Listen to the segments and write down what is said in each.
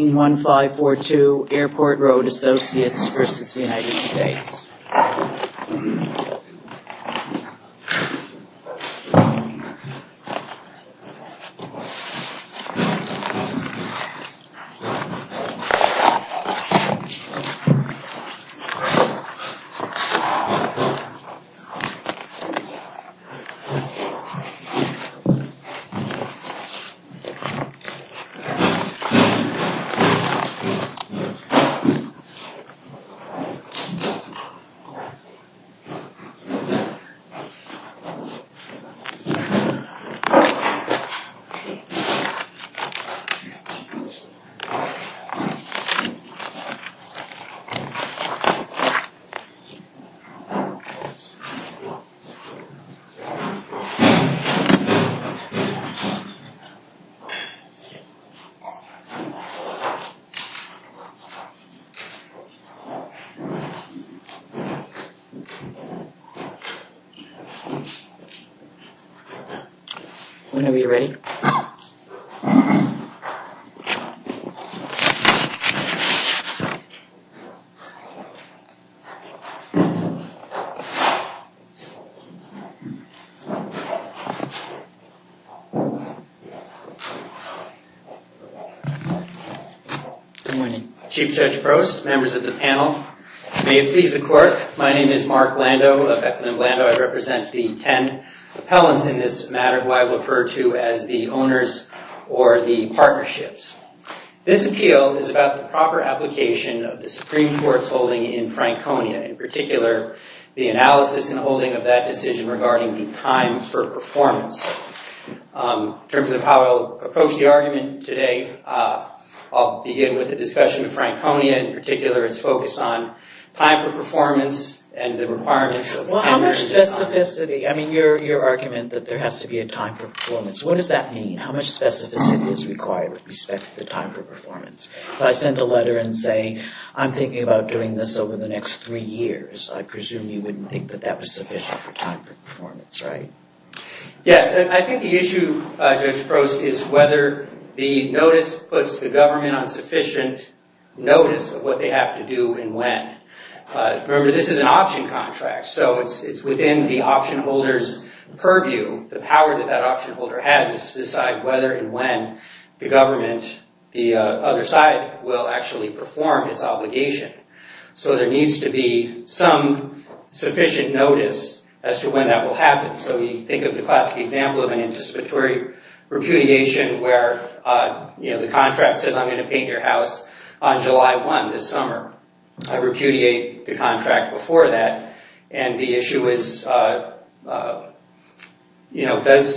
1542 Airport Road Associates, Ltd. v. United States 1542 Airport Road Associates, Ltd. Whenever you're ready. Good morning. Chief Judge Prost, members of the panel, may it please the Court, my name is Mark Lando of Echlin and Lando. I represent the ten appellants in this matter who I've referred to as the owners or the partnerships. This appeal is about the proper application of the Supreme Court's holding in Franconia, in particular the analysis and holding of that decision regarding the time for performance. In terms of how I'll approach the argument today, I'll begin with a discussion of Franconia, in particular its focus on time for performance and the requirements of the penury design. Well, how much specificity? I mean, your argument that there has to be a time for performance. What does that mean? How much specificity is required with respect to the time for performance? If I send a letter and say, I'm thinking about doing this over the next three years, I presume you wouldn't think that that was sufficient for time for performance, right? Yes. I think the issue, Judge Prost, is whether the notice puts the government on sufficient notice of what they have to do and when. Remember, this is an option contract, so it's within the option holder's purview. The power that that option holder has is to decide whether and when the government, the other side, will actually perform its obligation. So there needs to be some sufficient notice as to when that will happen. So you think of the classic example of an anticipatory repudiation where the contract says, I'm going to paint your house on July 1 this summer. I repudiate the contract before that, and the issue is,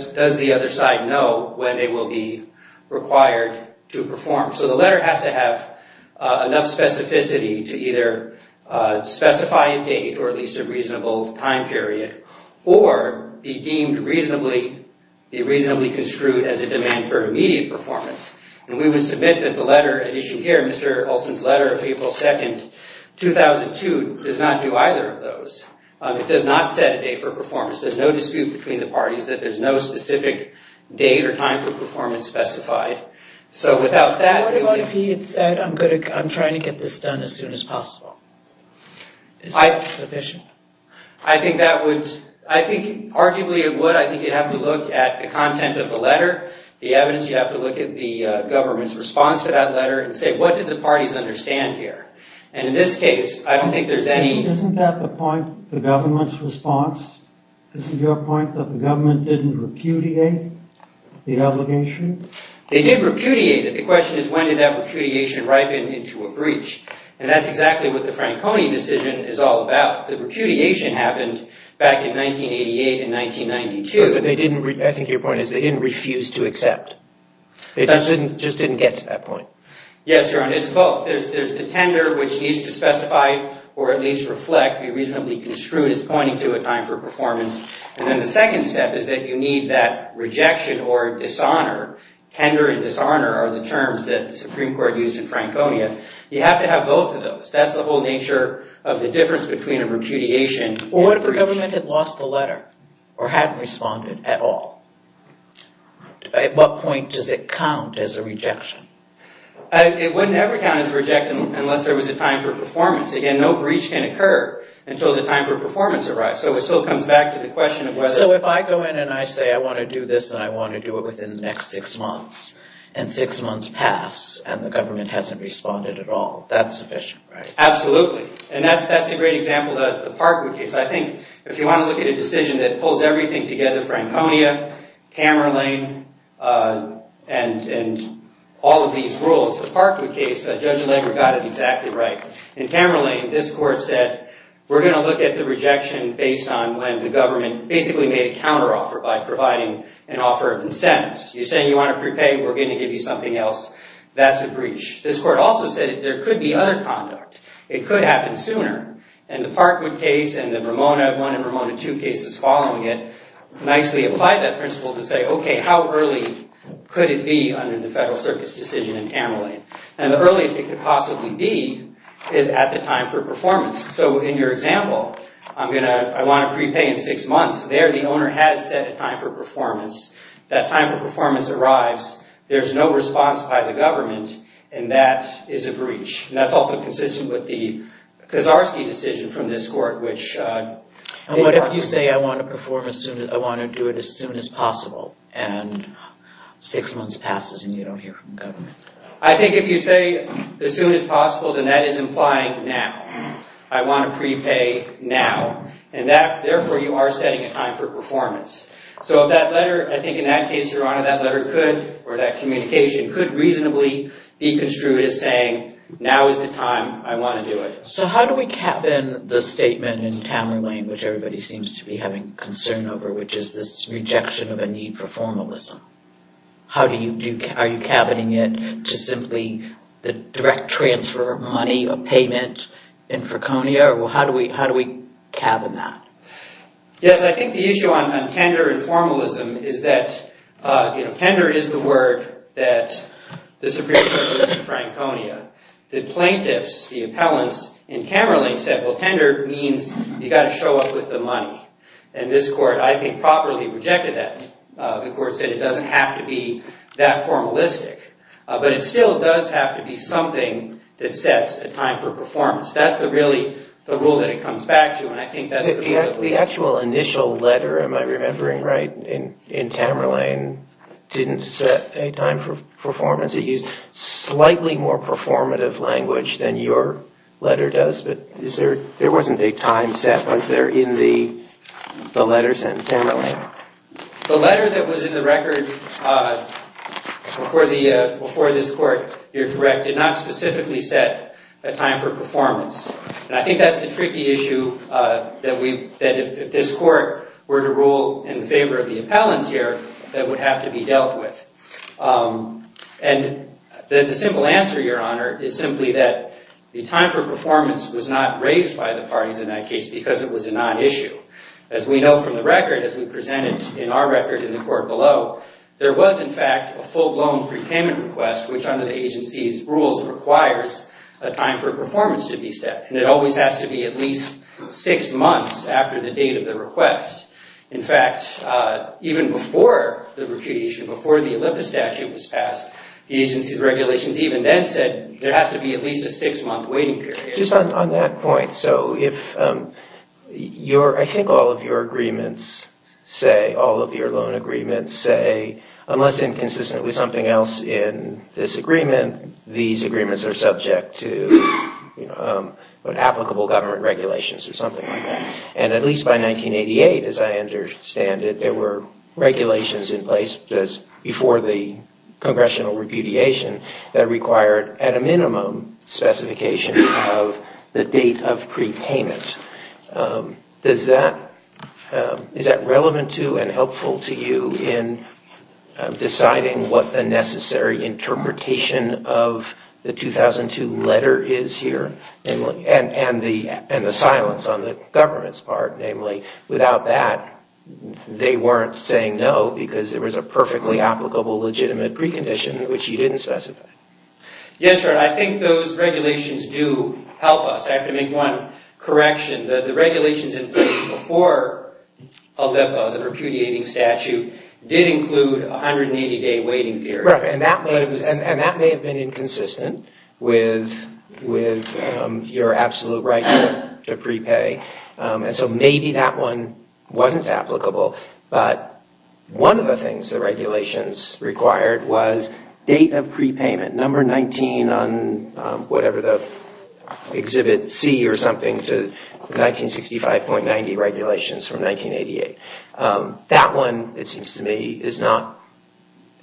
does the other side know when they will be required to perform? So the letter has to have enough specificity to either specify a date or at least a reasonable time period, or be reasonably construed as a demand for immediate performance. And we would submit that the letter at issue here, Mr. Olson's letter of April 2, 2002, does not do either of those. It does not set a date for performance. There's no dispute between the parties that there's no specific date or time for performance specified. So without that... What about if he had said, I'm trying to get this done as soon as possible? Is that sufficient? I think that would... I think arguably it would. I think you'd have to look at the content of the letter, the evidence. You'd have to look at the government's response to that letter and say, what did the parties understand here? And in this case, I don't think there's any... Isn't that the point, the government's response? Isn't your point that the government didn't repudiate the obligation? They did repudiate it. The question is, when did that repudiation ripen into a breach? And that's exactly what the Franconia decision is all about. The repudiation happened back in 1988 and 1992. But they didn't... I think your point is they didn't refuse to accept. They just didn't get to that point. Yes, Your Honor. It's both. There's the tender, which needs to specify or at least reflect, be reasonably construed as pointing to a time for performance. And then the second step is that you need that rejection or dishonor. Tender and dishonor are the terms that the Supreme Court used in Franconia. You have to have both of those. That's the whole nature of the difference between a repudiation and a rejection. What if the government had lost the letter or hadn't responded at all? At what point does it count as a rejection? It would never count as a rejection unless there was a time for performance. Again, no breach can occur until the time for performance arrives. So it still comes back to the question of whether... So if I go in and I say I want to do this and I want to do it within the next six months and six months pass and the government hasn't responded at all, that's sufficient, right? Absolutely. And that's a great example of the Parkwood case. I think if you want to look at a decision that pulls everything together, Franconia, Camerlane, and all of these rules, the Parkwood case, Judge Allegra got it exactly right. In Camerlane, this court said we're going to look at the rejection based on when the government basically made a counteroffer by providing an offer of incentives. You're saying you want to prepay. We're going to give you something else. That's a breach. This court also said there could be other conduct. It could happen sooner. And the Parkwood case and the Ramona, one in Ramona, two cases following it, nicely applied that principle to say, okay, how early could it be under the Federal Circus decision in Camerlane? And the earliest it could possibly be is at the time for performance. So in your example, I'm going to... I want to prepay in six months. There the owner has set a time for performance. That time for performance arrives. There's no response by the government, and that is a breach. And that's also consistent with the Kaczarski decision from this court, which... And what if you say, I want to perform as soon as... I want to do it as soon as possible, and six months passes and you don't hear from the government? I think if you say as soon as possible, then that is implying now. I want to prepay now. And therefore, you are setting a time for performance. So if that letter, I think in that case, Your Honor, that letter could, or that communication could reasonably be construed as saying, now is the time. I want to do it. So how do we cabin the statement in Camerlane, which everybody seems to be having concern over, which is this rejection of a need for formalism? How do you do... Are you cabbing it to simply the direct transfer of money or payment in Freconia? Or how do we cabin that? Yes, I think the issue on tender and formalism is that tender is the word that the Supreme Court used in Franconia. The plaintiffs, the appellants in Camerlane said, well, tender means you got to show up with the money. And this court, I think, properly rejected that. The court said it doesn't have to be that formalistic. But it still does have to be something that sets a time for performance. That's really the rule that it comes back to. The actual initial letter, am I remembering right, in Camerlane didn't set a time for performance. It used slightly more performative language than your letter does. But there wasn't a time set. Was there in the letter sent to Camerlane? The letter that was in the record before this court here directed not specifically set a time for performance. And I think that's the tricky issue that if this court were to rule in favor of the appellants here, that would have to be dealt with. And the simple answer, Your Honor, is simply that the time for performance was not raised by the parties in that case because it was a non-issue. As we know from the record, as we presented in our record in the court below, there was in fact a full-blown prepayment request, which under the agency's rules requires a time for performance to be set. And it always has to be at least six months after the date of the request. In fact, even before the repudiation, before the Olympus statute was passed, the agency's regulations even then said there has to be at least a six-month waiting period. Just on that point, so if your, I think all of your agreements say, all of your loan agreements say, unless inconsistently something else in this agreement, these agreements are subject to applicable government regulations or something like that. And at least by 1988, as I understand it, there were regulations in place before the congressional repudiation that required at a minimum specification of the date of prepayment. Does that, is that relevant to and helpful to you in deciding what the necessary interpretation of the 2002 letter is here and the silence on the government's part? Namely, without that, they weren't saying no because there was a perfectly applicable legitimate precondition, which you didn't specify. Yes, Your Honor. I think those regulations do help us. I have to make one correction. The regulations in place before Olympus, the repudiating statute, did include a 180-day waiting period. And that may have been inconsistent with your absolute right to prepay. And so maybe that one wasn't applicable. But one of the things the regulations required was date of prepayment, number 19 on whatever the exhibit C or something to 1965.90 regulations from 1988. That one, it seems to me, is not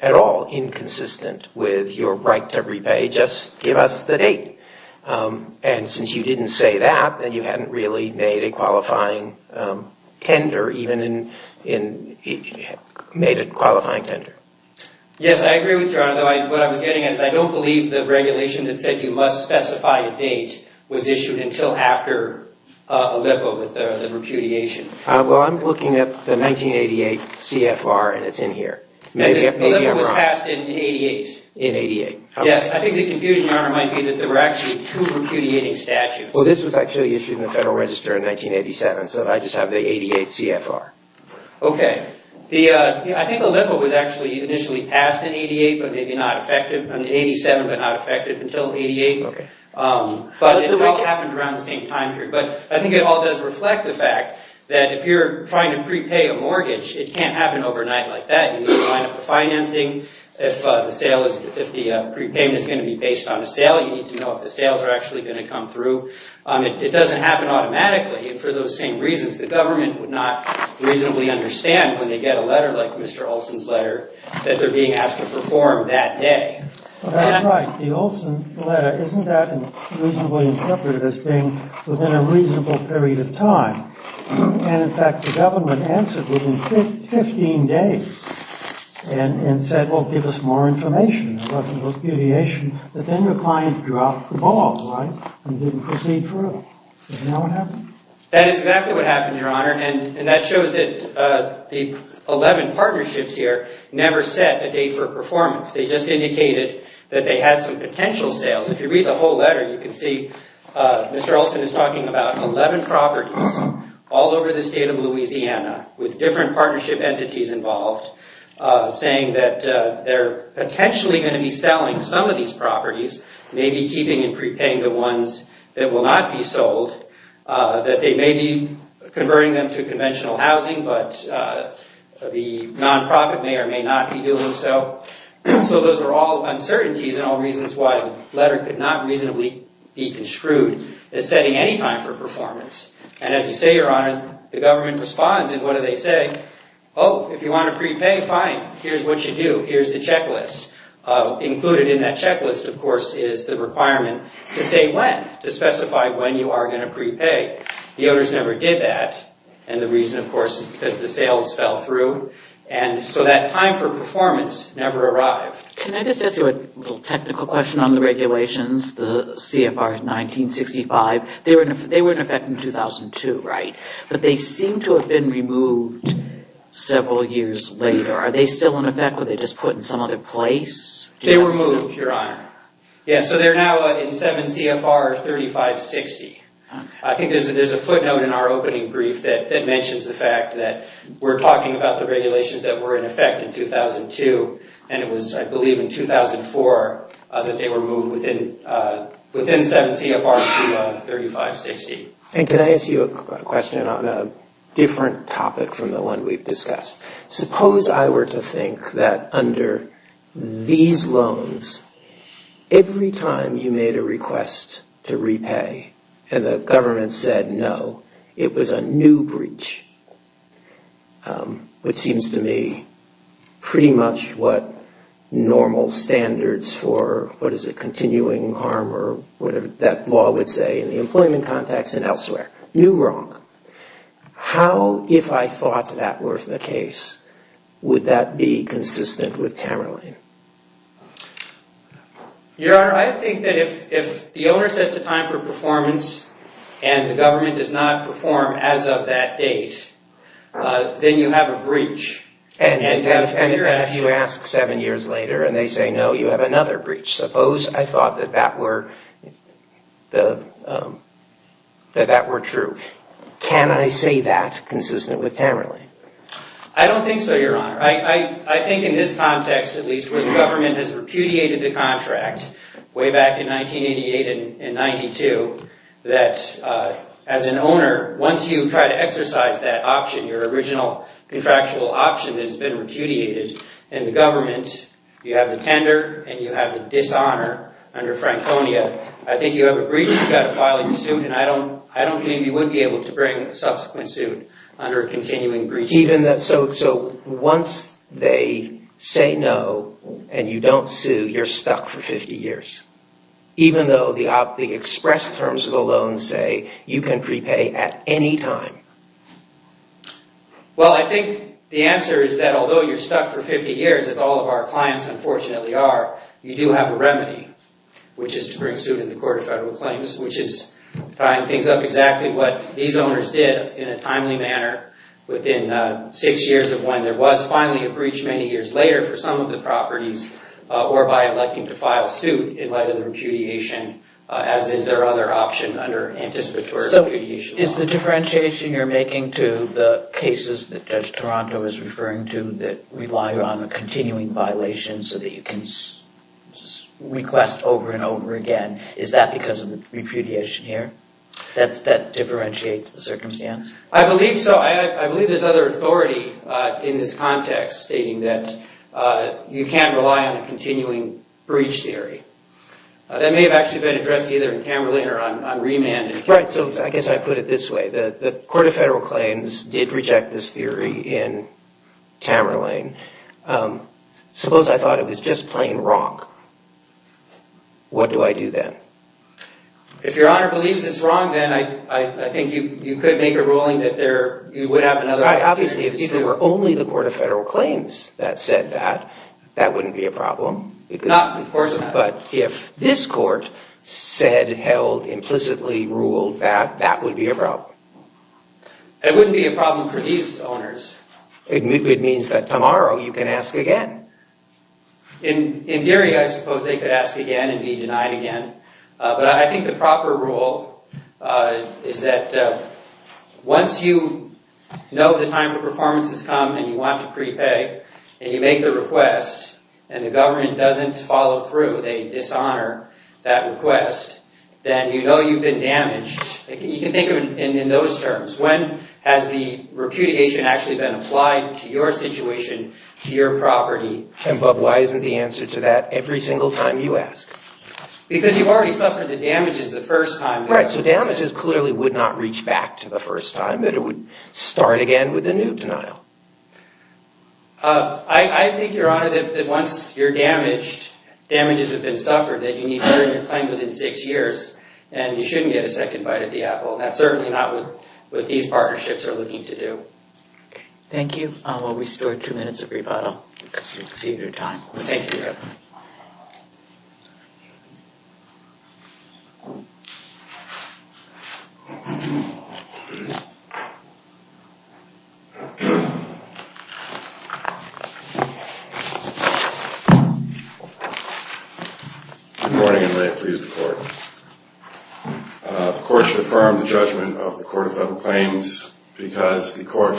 at all inconsistent with your right to prepay. Just give us the date. And since you didn't say that, then you hadn't really made a qualifying tender, even in, made a qualifying tender. Yes, I agree with Your Honor. What I was getting at is I don't believe the regulation that said you must specify a date was issued until after Olympus with the repudiation. Well, I'm looking at the 1988 CFR, and it's in here. Maybe I'm wrong. Olympus was passed in 88. In 88. Yes, I think the confusion, Your Honor, might be that there were actually two repudiating statutes. Well, this was actually issued in the Federal Register in 1987, so I just have the 88 CFR. Okay. I think Olympus was actually initially passed in 88, but maybe not effective in 87, but not effective until 88. Okay. But it all happened around the same time period. But I think it all does reflect the fact that if you're trying to prepay a mortgage, it can't happen overnight like that. You need to line up the financing. If the sale is, if the prepayment is going to be based on a sale, you need to know if the sales are actually going to come through. It doesn't happen automatically. And for those same reasons, the government would not reasonably understand when they get a letter like Mr. Olson's letter that they're being asked to perform that day. That's right. The Olson letter, isn't that reasonably interpreted as being within a reasonable period of time? And, in fact, the government answered within 15 days and said, well, give us more information. There wasn't repudiation. But then your client dropped the ball, right, and didn't proceed for real. And now what happened? That is exactly what happened, Your Honor. And that shows that the 11 partnerships here never set a date for performance. They just indicated that they had some potential sales. If you read the whole letter, you can see Mr. Olson is talking about 11 properties all over the state of Louisiana with different partnership entities involved, saying that they're potentially going to be selling some of these properties, maybe keeping and prepaying the ones that will not be sold, that they may be converting them to conventional housing, but the nonprofit may or may not be doing so. So those are all uncertainties and all reasons why the letter could not reasonably be construed as setting any time for performance. And as you say, Your Honor, the government responds. And what do they say? Oh, if you want to prepay, fine. Here's what you do. Here's the checklist. Included in that checklist, of course, is the requirement to say when, to specify when you are going to prepay. The owners never did that. And the reason, of course, is because the sales fell through. And so that time for performance never arrived. Can I just ask you a little technical question on the regulations, the CFR 1965? They were in effect in 2002, right? But they seem to have been removed several years later. Are they still in effect? Were they just put in some other place? They were moved, Your Honor. Yeah, so they're now in 7 CFR 3560. I think there's a footnote in our opening brief that mentions the fact that we're talking about the regulations that were in effect in 2002. And it was, I believe, in 2004 that they were moved within 7 CFR 3560. And can I ask you a question on a different topic from the one we've discussed? Suppose I were to think that under these loans, every time you made a request to repay and the government said no, it was a new breach, which seems to me pretty much what normal standards for, what is it, continuing harm or whatever that law would say in the employment context and elsewhere. New wrong. How, if I thought that were the case, would that be consistent with Tamerlane? Your Honor, I think that if the owner sets a time for performance and the government does not perform as of that date, then you have a breach. And if you ask seven years later and they say no, you have another breach. Suppose I thought that that were true. Can I say that consistent with Tamerlane? I don't think so, Your Honor. I think in this context, at least, where the government has repudiated the contract way back in 1988 and 92, that as an owner, once you try to exercise that option, your original contractual option has been repudiated, and the government, you have the tender and you have the dishonor under Franconia. I think you have a breach. You've got to file your suit, and I don't believe you would be able to bring a subsequent suit under a continuing breach. So once they say no and you don't sue, you're stuck for 50 years, even though the express terms of the loan say you can prepay at any time? Well, I think the answer is that although you're stuck for 50 years, as all of our owners are, you do have a remedy, which is to bring suit in the Court of Federal Claims, which is tying things up exactly what these owners did in a timely manner within six years of when there was finally a breach many years later for some of the properties or by electing to file suit in light of the repudiation, as is their other option under anticipatory repudiation. So is the differentiation you're making to the cases that Judge Toronto is referring to that rely on a continuing violation so that you can request over and over again, is that because of the repudiation here? That differentiates the circumstance? I believe so. I believe there's other authority in this context stating that you can't rely on a continuing breach theory. That may have actually been addressed either in Cameron or on remand. Right. So I guess I put it this way. The Court of Federal Claims did reject this theory in Tamerlane. Suppose I thought it was just plain wrong. What do I do then? If Your Honor believes it's wrong, then I think you could make a ruling that you would have another alternative. Obviously, if it were only the Court of Federal Claims that said that, that wouldn't be a problem. Of course not. But if this court said, held, implicitly ruled that, that would be a problem. It wouldn't be a problem for these owners. It means that tomorrow you can ask again. In theory, I suppose they could ask again and be denied again. But I think the proper rule is that once you know the time for performance has come and you want to prepay and you make the request and the government doesn't follow through, they dishonor that request, then you know you've been damaged. You can think of it in those terms. When has the repudiation actually been applied to your situation, to your property? But why isn't the answer to that every single time you ask? Because you've already suffered the damages the first time. Right. So damages clearly would not reach back to the first time. But it would start again with a new denial. I think, Your Honor, that once you're damaged, damages have been suffered, that you need to return your claim within six years. And you shouldn't get a second bite of the apple. That's certainly not what these partnerships are looking to do. Thank you. I will restore two minutes of rebuttal, because we've exceeded our time. Thank you, Your Honor. Good morning, and may it please the Court. The Court should affirm the judgment of the Court of Federal Claims because the Court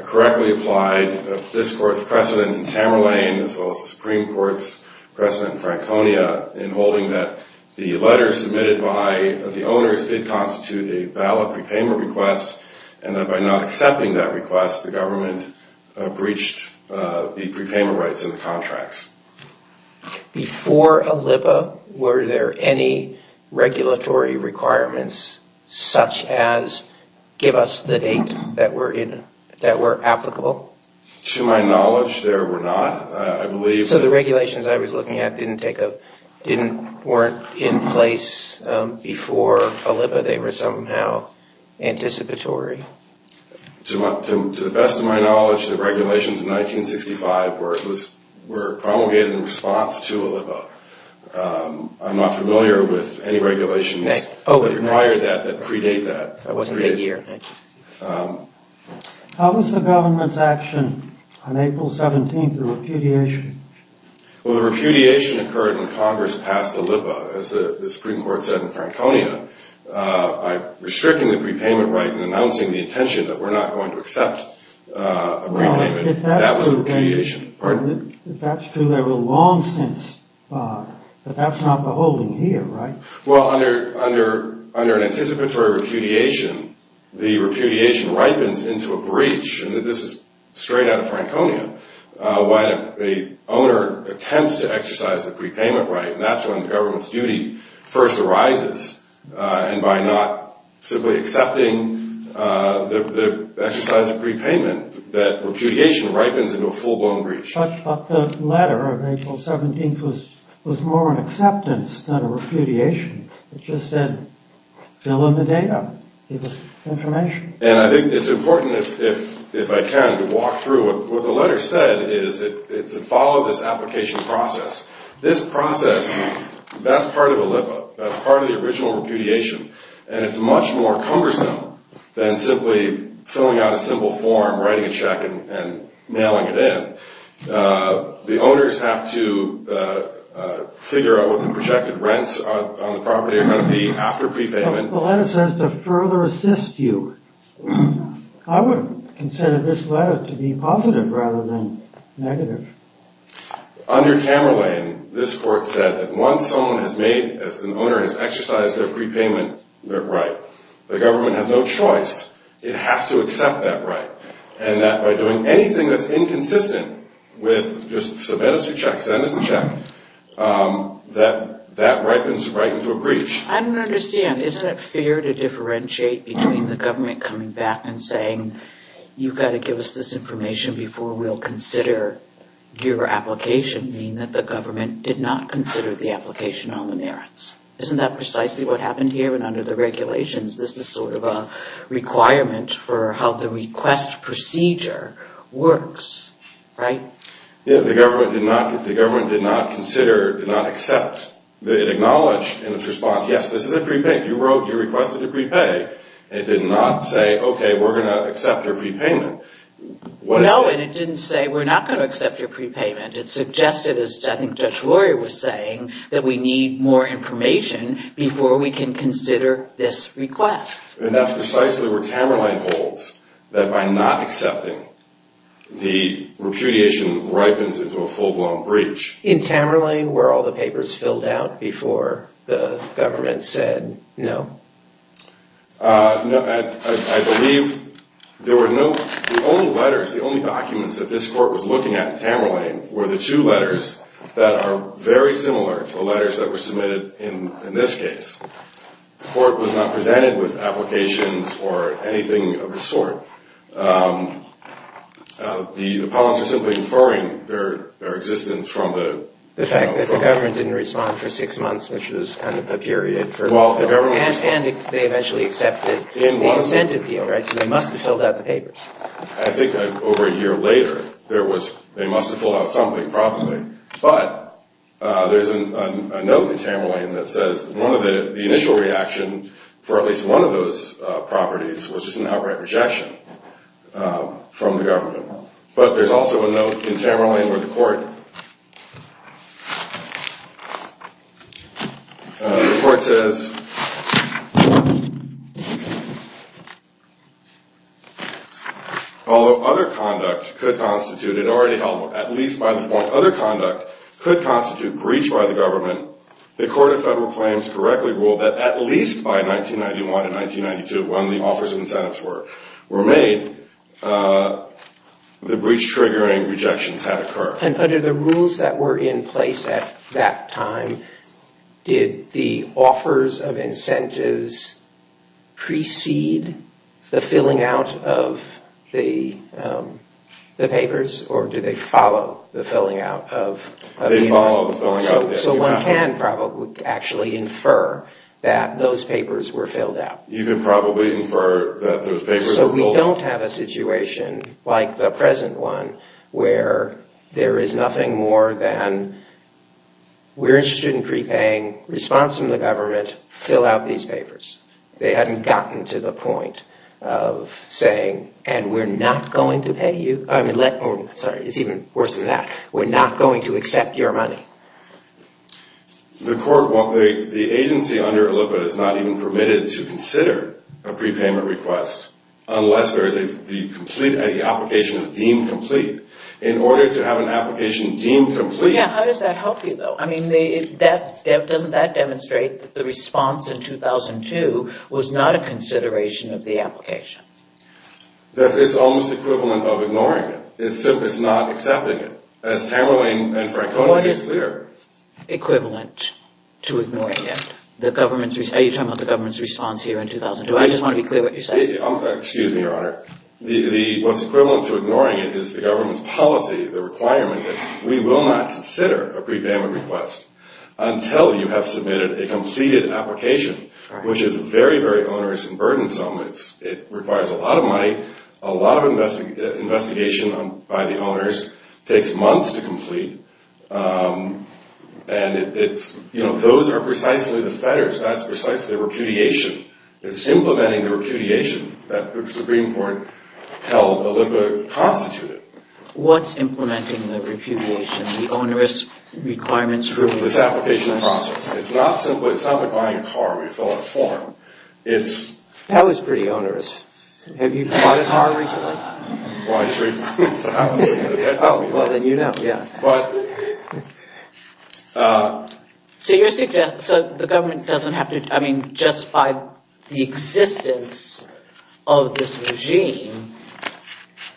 correctly applied this Court's precedent in Tamerlane, as well as the Supreme Court's precedent in Franconia, in holding that the letters submitted by the owners did constitute a valid prepayment request, and that by not accepting that request, the government breached the prepayment rights in the contracts. Before ALIPPA, were there any regulatory requirements, such as, give us the date that were applicable? To my knowledge, there were not. I believe— So the regulations I was looking at didn't take a—weren't in place before ALIPPA. They were somehow anticipatory. To the best of my knowledge, the regulations in 1965 were promulgated in response to ALIPPA. I'm not familiar with any regulations that required that, that predate that. How was the government's action on April 17th, the repudiation? Well, the repudiation occurred when Congress passed ALIPPA. As the Supreme Court said in Franconia, by restricting the prepayment right and announcing the intention that we're not going to accept a prepayment, that was the repudiation. If that's true, there were long since—but that's not the holding here, right? Well, under an anticipatory repudiation, the repudiation ripens into a breach. And this is straight out of Franconia. When an owner attempts to exercise the prepayment right, that's when the government's duty first arises. And by not simply accepting the exercise of prepayment, that repudiation ripens into a full-blown breach. But the letter of April 17th was more an acceptance than a repudiation. It just said, fill in the data. It was information. And I think it's important, if I can, to walk through. What the letter said is follow this application process. This process, that's part of ALIPPA. That's part of the original repudiation. And it's much more cumbersome than simply filling out a simple form, writing a check, and mailing it in. The owners have to figure out what the projected rents on the property are going to be after prepayment. The letter says to further assist you. I would consider this letter to be positive rather than negative. Under Tamerlane, this court said that once someone has made, as an owner has exercised their prepayment right, the government has no choice. It has to accept that right. And that by doing anything that's inconsistent with just submit us a check, send us a check, that that ripens right into a breach. I don't understand. Isn't it fair to differentiate between the government coming back and saying, you've got to give us this information before we'll consider your application, meaning that the government did not consider the application on the merits. Isn't that precisely what happened here? And under the regulations, this is sort of a requirement for how the request procedure works. Right? The government did not consider, did not accept, it acknowledged in its response, yes, this is a prepayment. You wrote, you requested a prepay. It did not say, okay, we're going to accept your prepayment. No, and it didn't say, we're not going to accept your prepayment. It suggested, as I think Judge Lori was saying, that we need more information before we can consider this request. And that's precisely where Tamerlane holds, that by not accepting, the repudiation ripens into a full-blown breach. In Tamerlane, were all the papers filled out before the government said no? No, I believe there were no, the only letters, the only documents that this court was looking at in Tamerlane were the two letters that are very similar to the letters that were submitted in this case. The court was not presented with applications or anything of the sort. The appellants are simply inferring their existence from the- The fact that the government didn't respond for six months, which was kind of the period for- Well, the government- And they eventually accepted the incentive appeal, right? So they must have filled out the papers. I think over a year later, there was, they must have filled out something probably. But there's a note in Tamerlane that says the initial reaction for at least one of those properties was just an outright rejection from the government. But there's also a note in Tamerlane where the court- The court says, although other conduct could constitute, it already held at least by the point, other conduct could constitute breach by the government, the Court of Federal Claims correctly ruled that at least by 1991 and 1992 when the offers of incentives were made, the breach-triggering rejections had occurred. And under the rules that were in place at that time, did the offers of incentives precede the filling out of the papers or did they follow the filling out of- They followed the filling out. So one can probably actually infer that those papers were filled out. You can probably infer that those papers were filled out. So we don't have a situation like the present one where there is nothing more than, we're interested in prepaying, response from the government, fill out these papers. They hadn't gotten to the point of saying, and we're not going to pay you. It's even worse than that. We're not going to accept your money. The agency under ILLIPA is not even permitted to consider a prepayment request unless the application is deemed complete. In order to have an application deemed complete- How does that help you, though? Doesn't that demonstrate that the response in 2002 was not a consideration of the application? It's almost equivalent of ignoring it. It's not accepting it. As Tamara and Francona made clear- What is equivalent to ignoring it? You're talking about the government's response here in 2002. I just want to be clear what you're saying. Excuse me, Your Honor. What's equivalent to ignoring it is the government's policy, the requirement that we will not consider a prepayment request until you have submitted a completed application, which is very, very onerous and burdensome. It requires a lot of money. A lot of investigation by the owners. It takes months to complete. Those are precisely the fetters. That's precisely the repudiation. It's implementing the repudiation that the Supreme Court held Olimpia constituted. What's implementing the repudiation? The onerous requirements- This application process. It's not simply buying a car and we fill out a form. That was pretty onerous. Have you bought a car recently? Well, I just refurbished the house. Oh, well, then you know, yeah. But- So the government doesn't have to- I mean, just by the existence of this regime,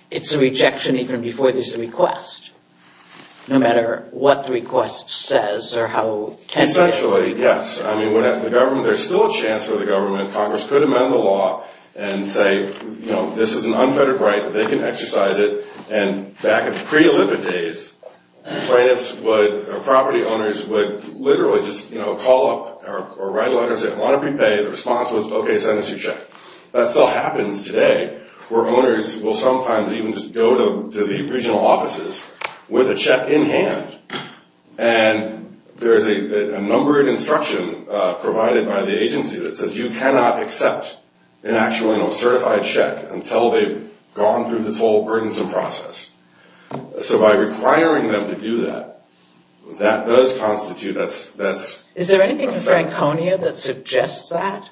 it's a rejection even before there's a request, no matter what the request says or how- Essentially, yes. I mean, there's still a chance for the government. Congress could amend the law and say, you know, this is an unfettered right, they can exercise it. And back in the pre-Olimpia days, property owners would literally just, you know, call up or write a letter and say, I want a prepay. The response was, okay, send us your check. That still happens today where owners will sometimes even just go to the regional offices with a check in hand. And there's a number of instruction provided by the agency that says you cannot accept an actual, you know, certified check until they've gone through this whole burdensome process. So by requiring them to do that, that does constitute- Is there anything in Franconia that suggests that?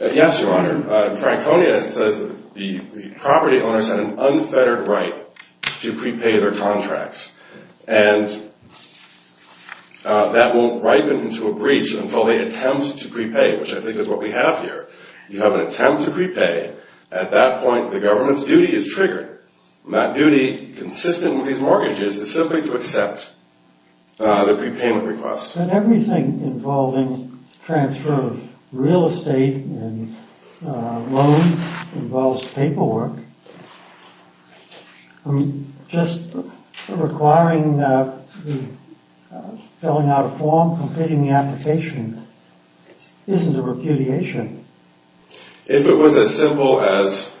Yes, Your Honor. In Franconia, it says the property owners had an unfettered right to prepay their contracts. And that won't ripen into a breach until they attempt to prepay, which I think is what we have here. You have an attempt to prepay. At that point, the government's duty is triggered. That duty, consistent with these mortgages, is simply to accept the prepayment request. But everything involving transfer of real estate and loans involves paperwork. Just requiring filling out a form, completing the application, isn't a repudiation. If it was as simple as,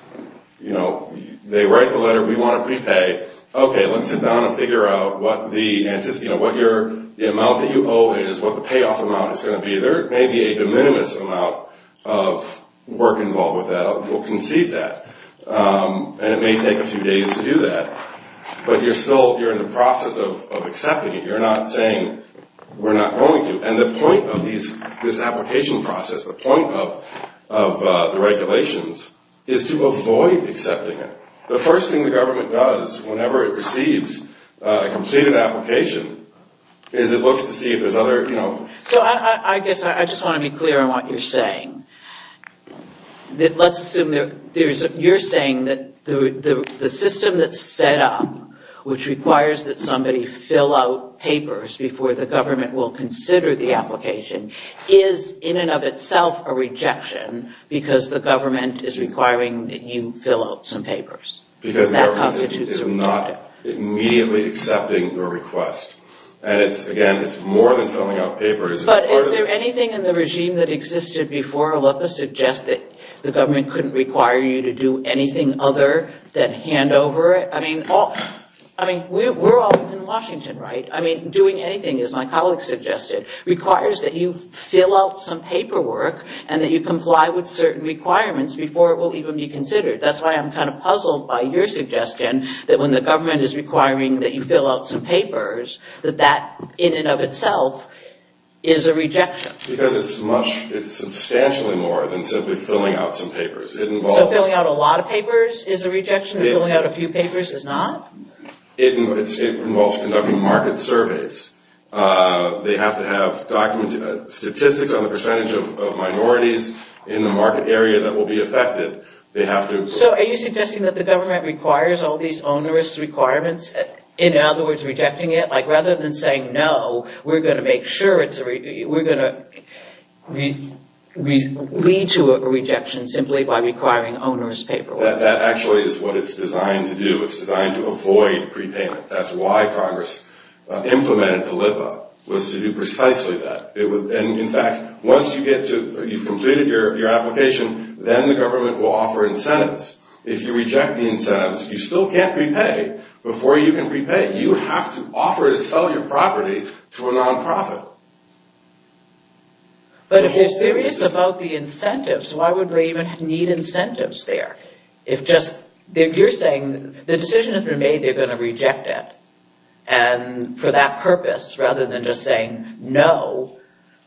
you know, they write the letter, we want to prepay, okay, let's sit down and figure out what the amount that you owe is, what the payoff amount is going to be. There may be a de minimis amount of work involved with that. We'll concede that. And it may take a few days to do that. But you're still in the process of accepting it. You're not saying, we're not going to. And the point of this application process, the point of the regulations, is to avoid accepting it. The first thing the government does whenever it receives a completed application is it looks to see if there's other, you know... So I guess I just want to be clear on what you're saying. Let's assume that you're saying that the system that's set up, which requires that somebody fill out papers before the government will consider the application, is in and of itself a rejection, because the government is requiring that you fill out some papers. Because the government is not immediately accepting your request. And it's, again, it's more than filling out papers. But is there anything in the regime that existed before Olympus suggests that the government couldn't require you to do anything other than hand over? I mean, we're all in Washington, right? I mean, doing anything, as my colleague suggested, requires that you fill out some paperwork and that you comply with certain requirements before it will even be considered. That's why I'm kind of puzzled by your suggestion that when the government is requiring that you fill out some papers, that that, in and of itself, is a rejection. Because it's substantially more than simply filling out some papers. So filling out a lot of papers is a rejection? Filling out a few papers is not? It involves conducting market surveys. They have to have statistics on the percentage of minorities in the market area that will be affected. So are you suggesting that the government requires all these onerous requirements? In other words, rejecting it? Like, rather than saying, no, we're going to make sure, we're going to lead to a rejection simply by requiring onerous paperwork. That actually is what it's designed to do. It's designed to avoid prepayment. That's why Congress implemented the LIPA, was to do precisely that. And in fact, once you get to, you've completed your application, then the government will offer incentives. If you reject the incentives, you still can't prepay before you can prepay. You have to offer to sell your property to a non-profit. But if they're serious about the incentives, why would they even need incentives there? If just, you're saying, the decision has been made, they're going to reject it. And for that purpose, rather than just saying, no,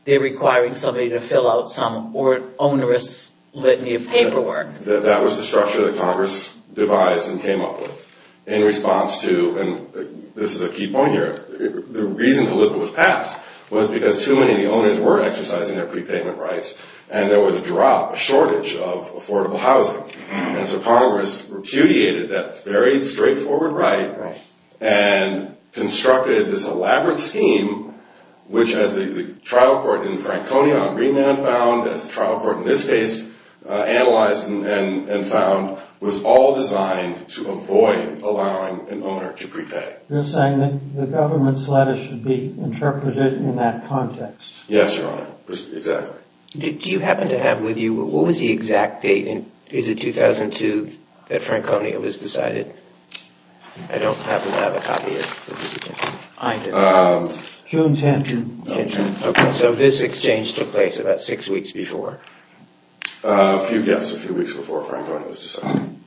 they're requiring somebody to fill out some onerous litany of paperwork. That was the structure that Congress devised and came up with in response to, and this is a key point here, the reason the LIPA was passed was because too many of the owners were exercising their prepayment rights, and there was a drop, a shortage, of affordable housing. And so Congress repudiated that very straightforward right and constructed this elaborate scheme, which as the trial court in Franconia on Greenland found, as the trial court in this case analyzed and found, was all designed to avoid allowing an owner to prepay. You're saying that the government's letter should be interpreted in that context. Yes, Your Honor, exactly. Do you happen to have with you, what was the exact date, is it 2002 that Franconia was decided? I don't happen to have a copy of this exchange. June 10th. June 10th, okay. So this exchange took place about six weeks before. A few, yes, a few weeks before Franconia was decided.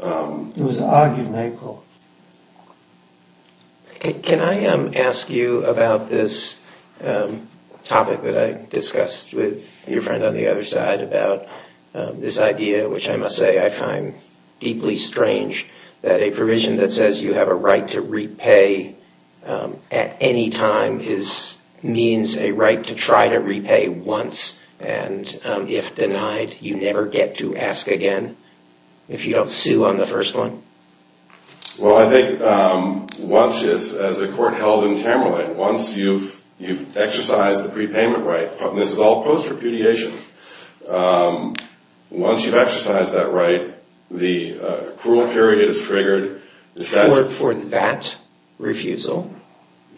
It was an argument, I quote. Can I ask you about this topic that I discussed with your friend on the other side about this idea which I must say I find deeply strange, that a provision that says you have a right to repay at any time means a right to try to repay once and if denied, you never get to ask again if you don't sue on the first one? Well, I think once, as a court held in Tamerlane, once you've exercised the prepayment right, and this is all post-repudiation, once you've exercised that right, the accrual period is triggered. For that refusal?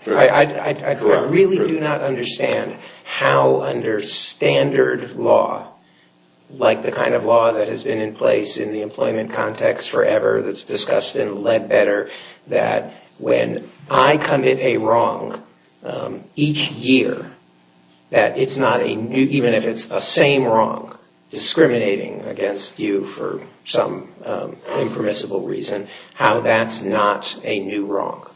I really do not understand how under standard law, like the kind of law that has been in place in the employment context forever that's discussed in Ledbetter, that when I commit a wrong each year, that it's not a new, even if it's the same wrong discriminating against you for some impermissible reason, how that's not a new wrong.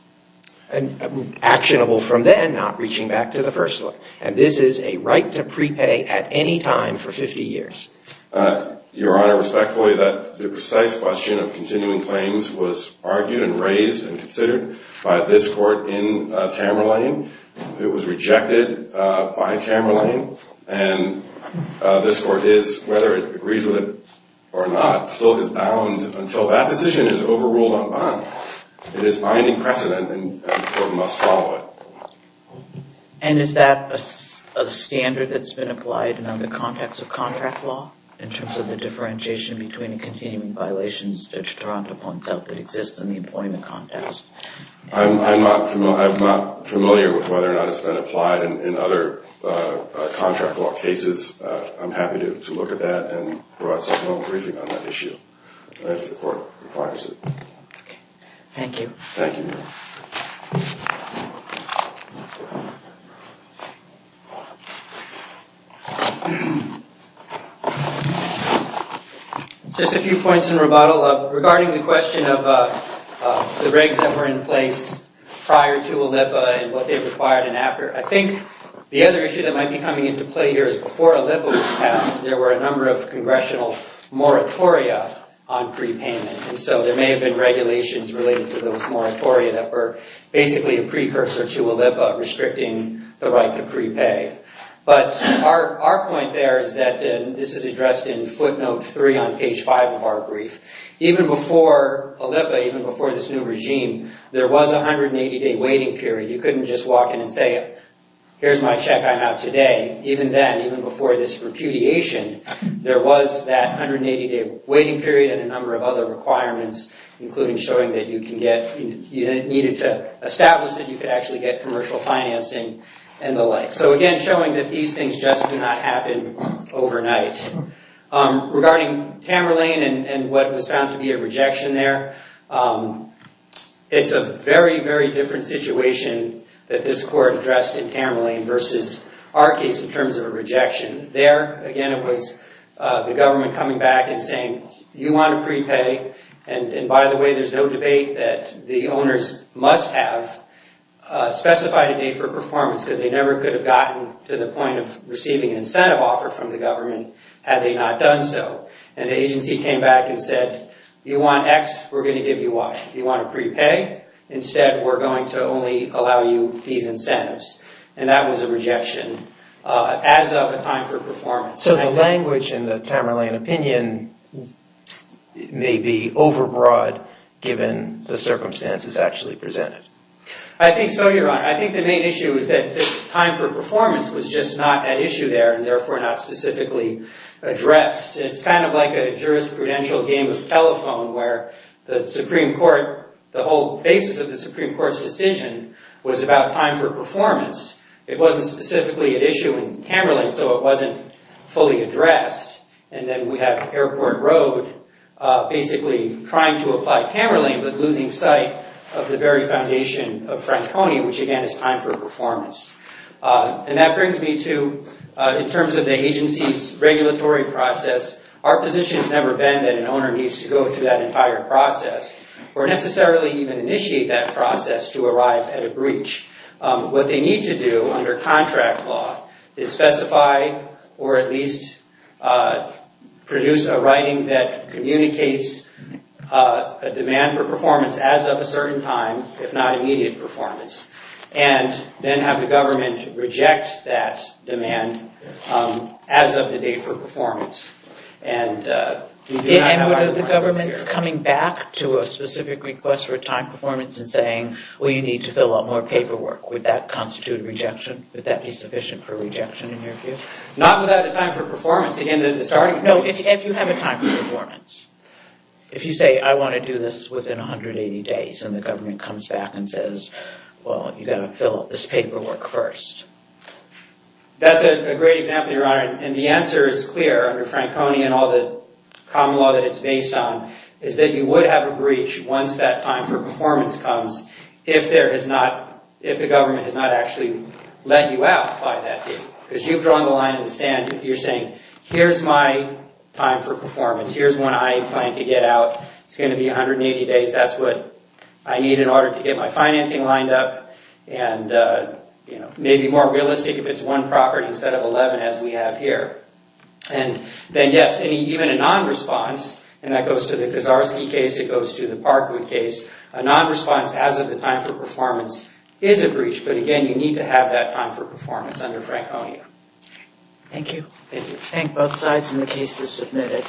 And actionable from then, not reaching back to the first one. And this is a right to prepay at any time for 50 years. Your Honor, respectfully, the precise question of continuing claims was argued and raised and considered by this court in Tamerlane. It was rejected by Tamerlane. And this court is, whether it agrees with it or not, still is bound until that decision is overruled en banc. It is binding precedent, and the court must follow it. And is that a standard that's been applied in other contexts of contract law, in terms of the differentiation between the continuing violations that exist in the employment context? I'm not familiar with whether or not it's been applied in other contract law cases. I'm happy to look at that and provide supplemental briefing on that issue if the court requires it. Thank you. Thank you, Your Honor. Just a few points in rebuttal. Regarding the question of the regs that were in place prior to ALEPA and what they required and after, I think the other issue that might be coming into play here is before ALEPA was passed, there were a number of congressional moratoria on prepayment. And so there may have been regulations related to those moratoria that were basically a precursor to ALEPA, restricting the right to prepay. But our point there is that, and this is addressed in footnote three on page five of our brief, even before ALEPA, even before this new regime, there was a 180-day waiting period. You couldn't just walk in and say, here's my check I have today. Even then, even before this repudiation, there was that 180-day waiting period and a number of other requirements, including showing that you needed to establish that you could actually get commercial financing and the like. So again, showing that these things just do not happen overnight. Regarding Tamerlane and what was found to be a rejection there, it's a very, very different situation that this court addressed in Tamerlane versus our case in terms of a rejection. There, again, it was the government coming back and saying, you want to prepay. And by the way, there's no debate that the owners must have specified a date for performance because they never could have gotten to the point of receiving an incentive offer from the government had they not done so. And the agency came back and said, you want X, we're going to give you Y. You want to prepay? Instead, we're going to only allow you these incentives. And that was a rejection as of a time for performance. So the language in the Tamerlane opinion may be overbroad, given the circumstances actually presented. I think so, Your Honor. I think the main issue is that time for performance was just not at issue there and therefore not specifically addressed. It's kind of like a jurisprudential game of telephone where the Supreme Court, the whole basis of the Supreme Court's decision was about time for performance. It wasn't specifically at issue in Tamerlane, so it wasn't fully addressed. And then we have Airport Road basically trying to apply Tamerlane but losing sight of the very foundation of Franconi, which again is time for performance. And that brings me to, in terms of the agency's regulatory process, our position has never been that an owner needs to go through that entire process or necessarily even initiate that process to arrive at a breach. What they need to do under contract law is specify or at least produce a writing that communicates a demand for performance as of a certain time, if not immediate performance, and then have the government reject that demand as of the date for performance. And we do not have our requirements here. And would the government's coming back to a specific request for a time performance and saying, well, you need to fill out more paperwork, would that constitute rejection? Would that be sufficient for rejection in your view? Not without a time for performance. No, if you have a time for performance. If you say, I want to do this within 180 days and the government comes back and says, well, you've got to fill out this paperwork first. That's a great example, Your Honor. And the answer is clear under Franconi and all the common law that it's based on is that you would have a breach once that time for performance comes if the government has not actually let you out by that date. Because you've drawn the line in the sand. You're saying, here's my time for performance. Here's when I plan to get out. It's going to be 180 days. That's what I need in order to get my financing lined up and maybe more realistic if it's one property instead of 11 as we have here. And then, yes, even a non-response, and that goes to the Kaczarski case. It goes to the Parkwood case. A non-response as of the time for performance is a breach. But again, you need to have that time for performance under Franconi. Thank you. Thank you. Thank both sides, and the case is submitted.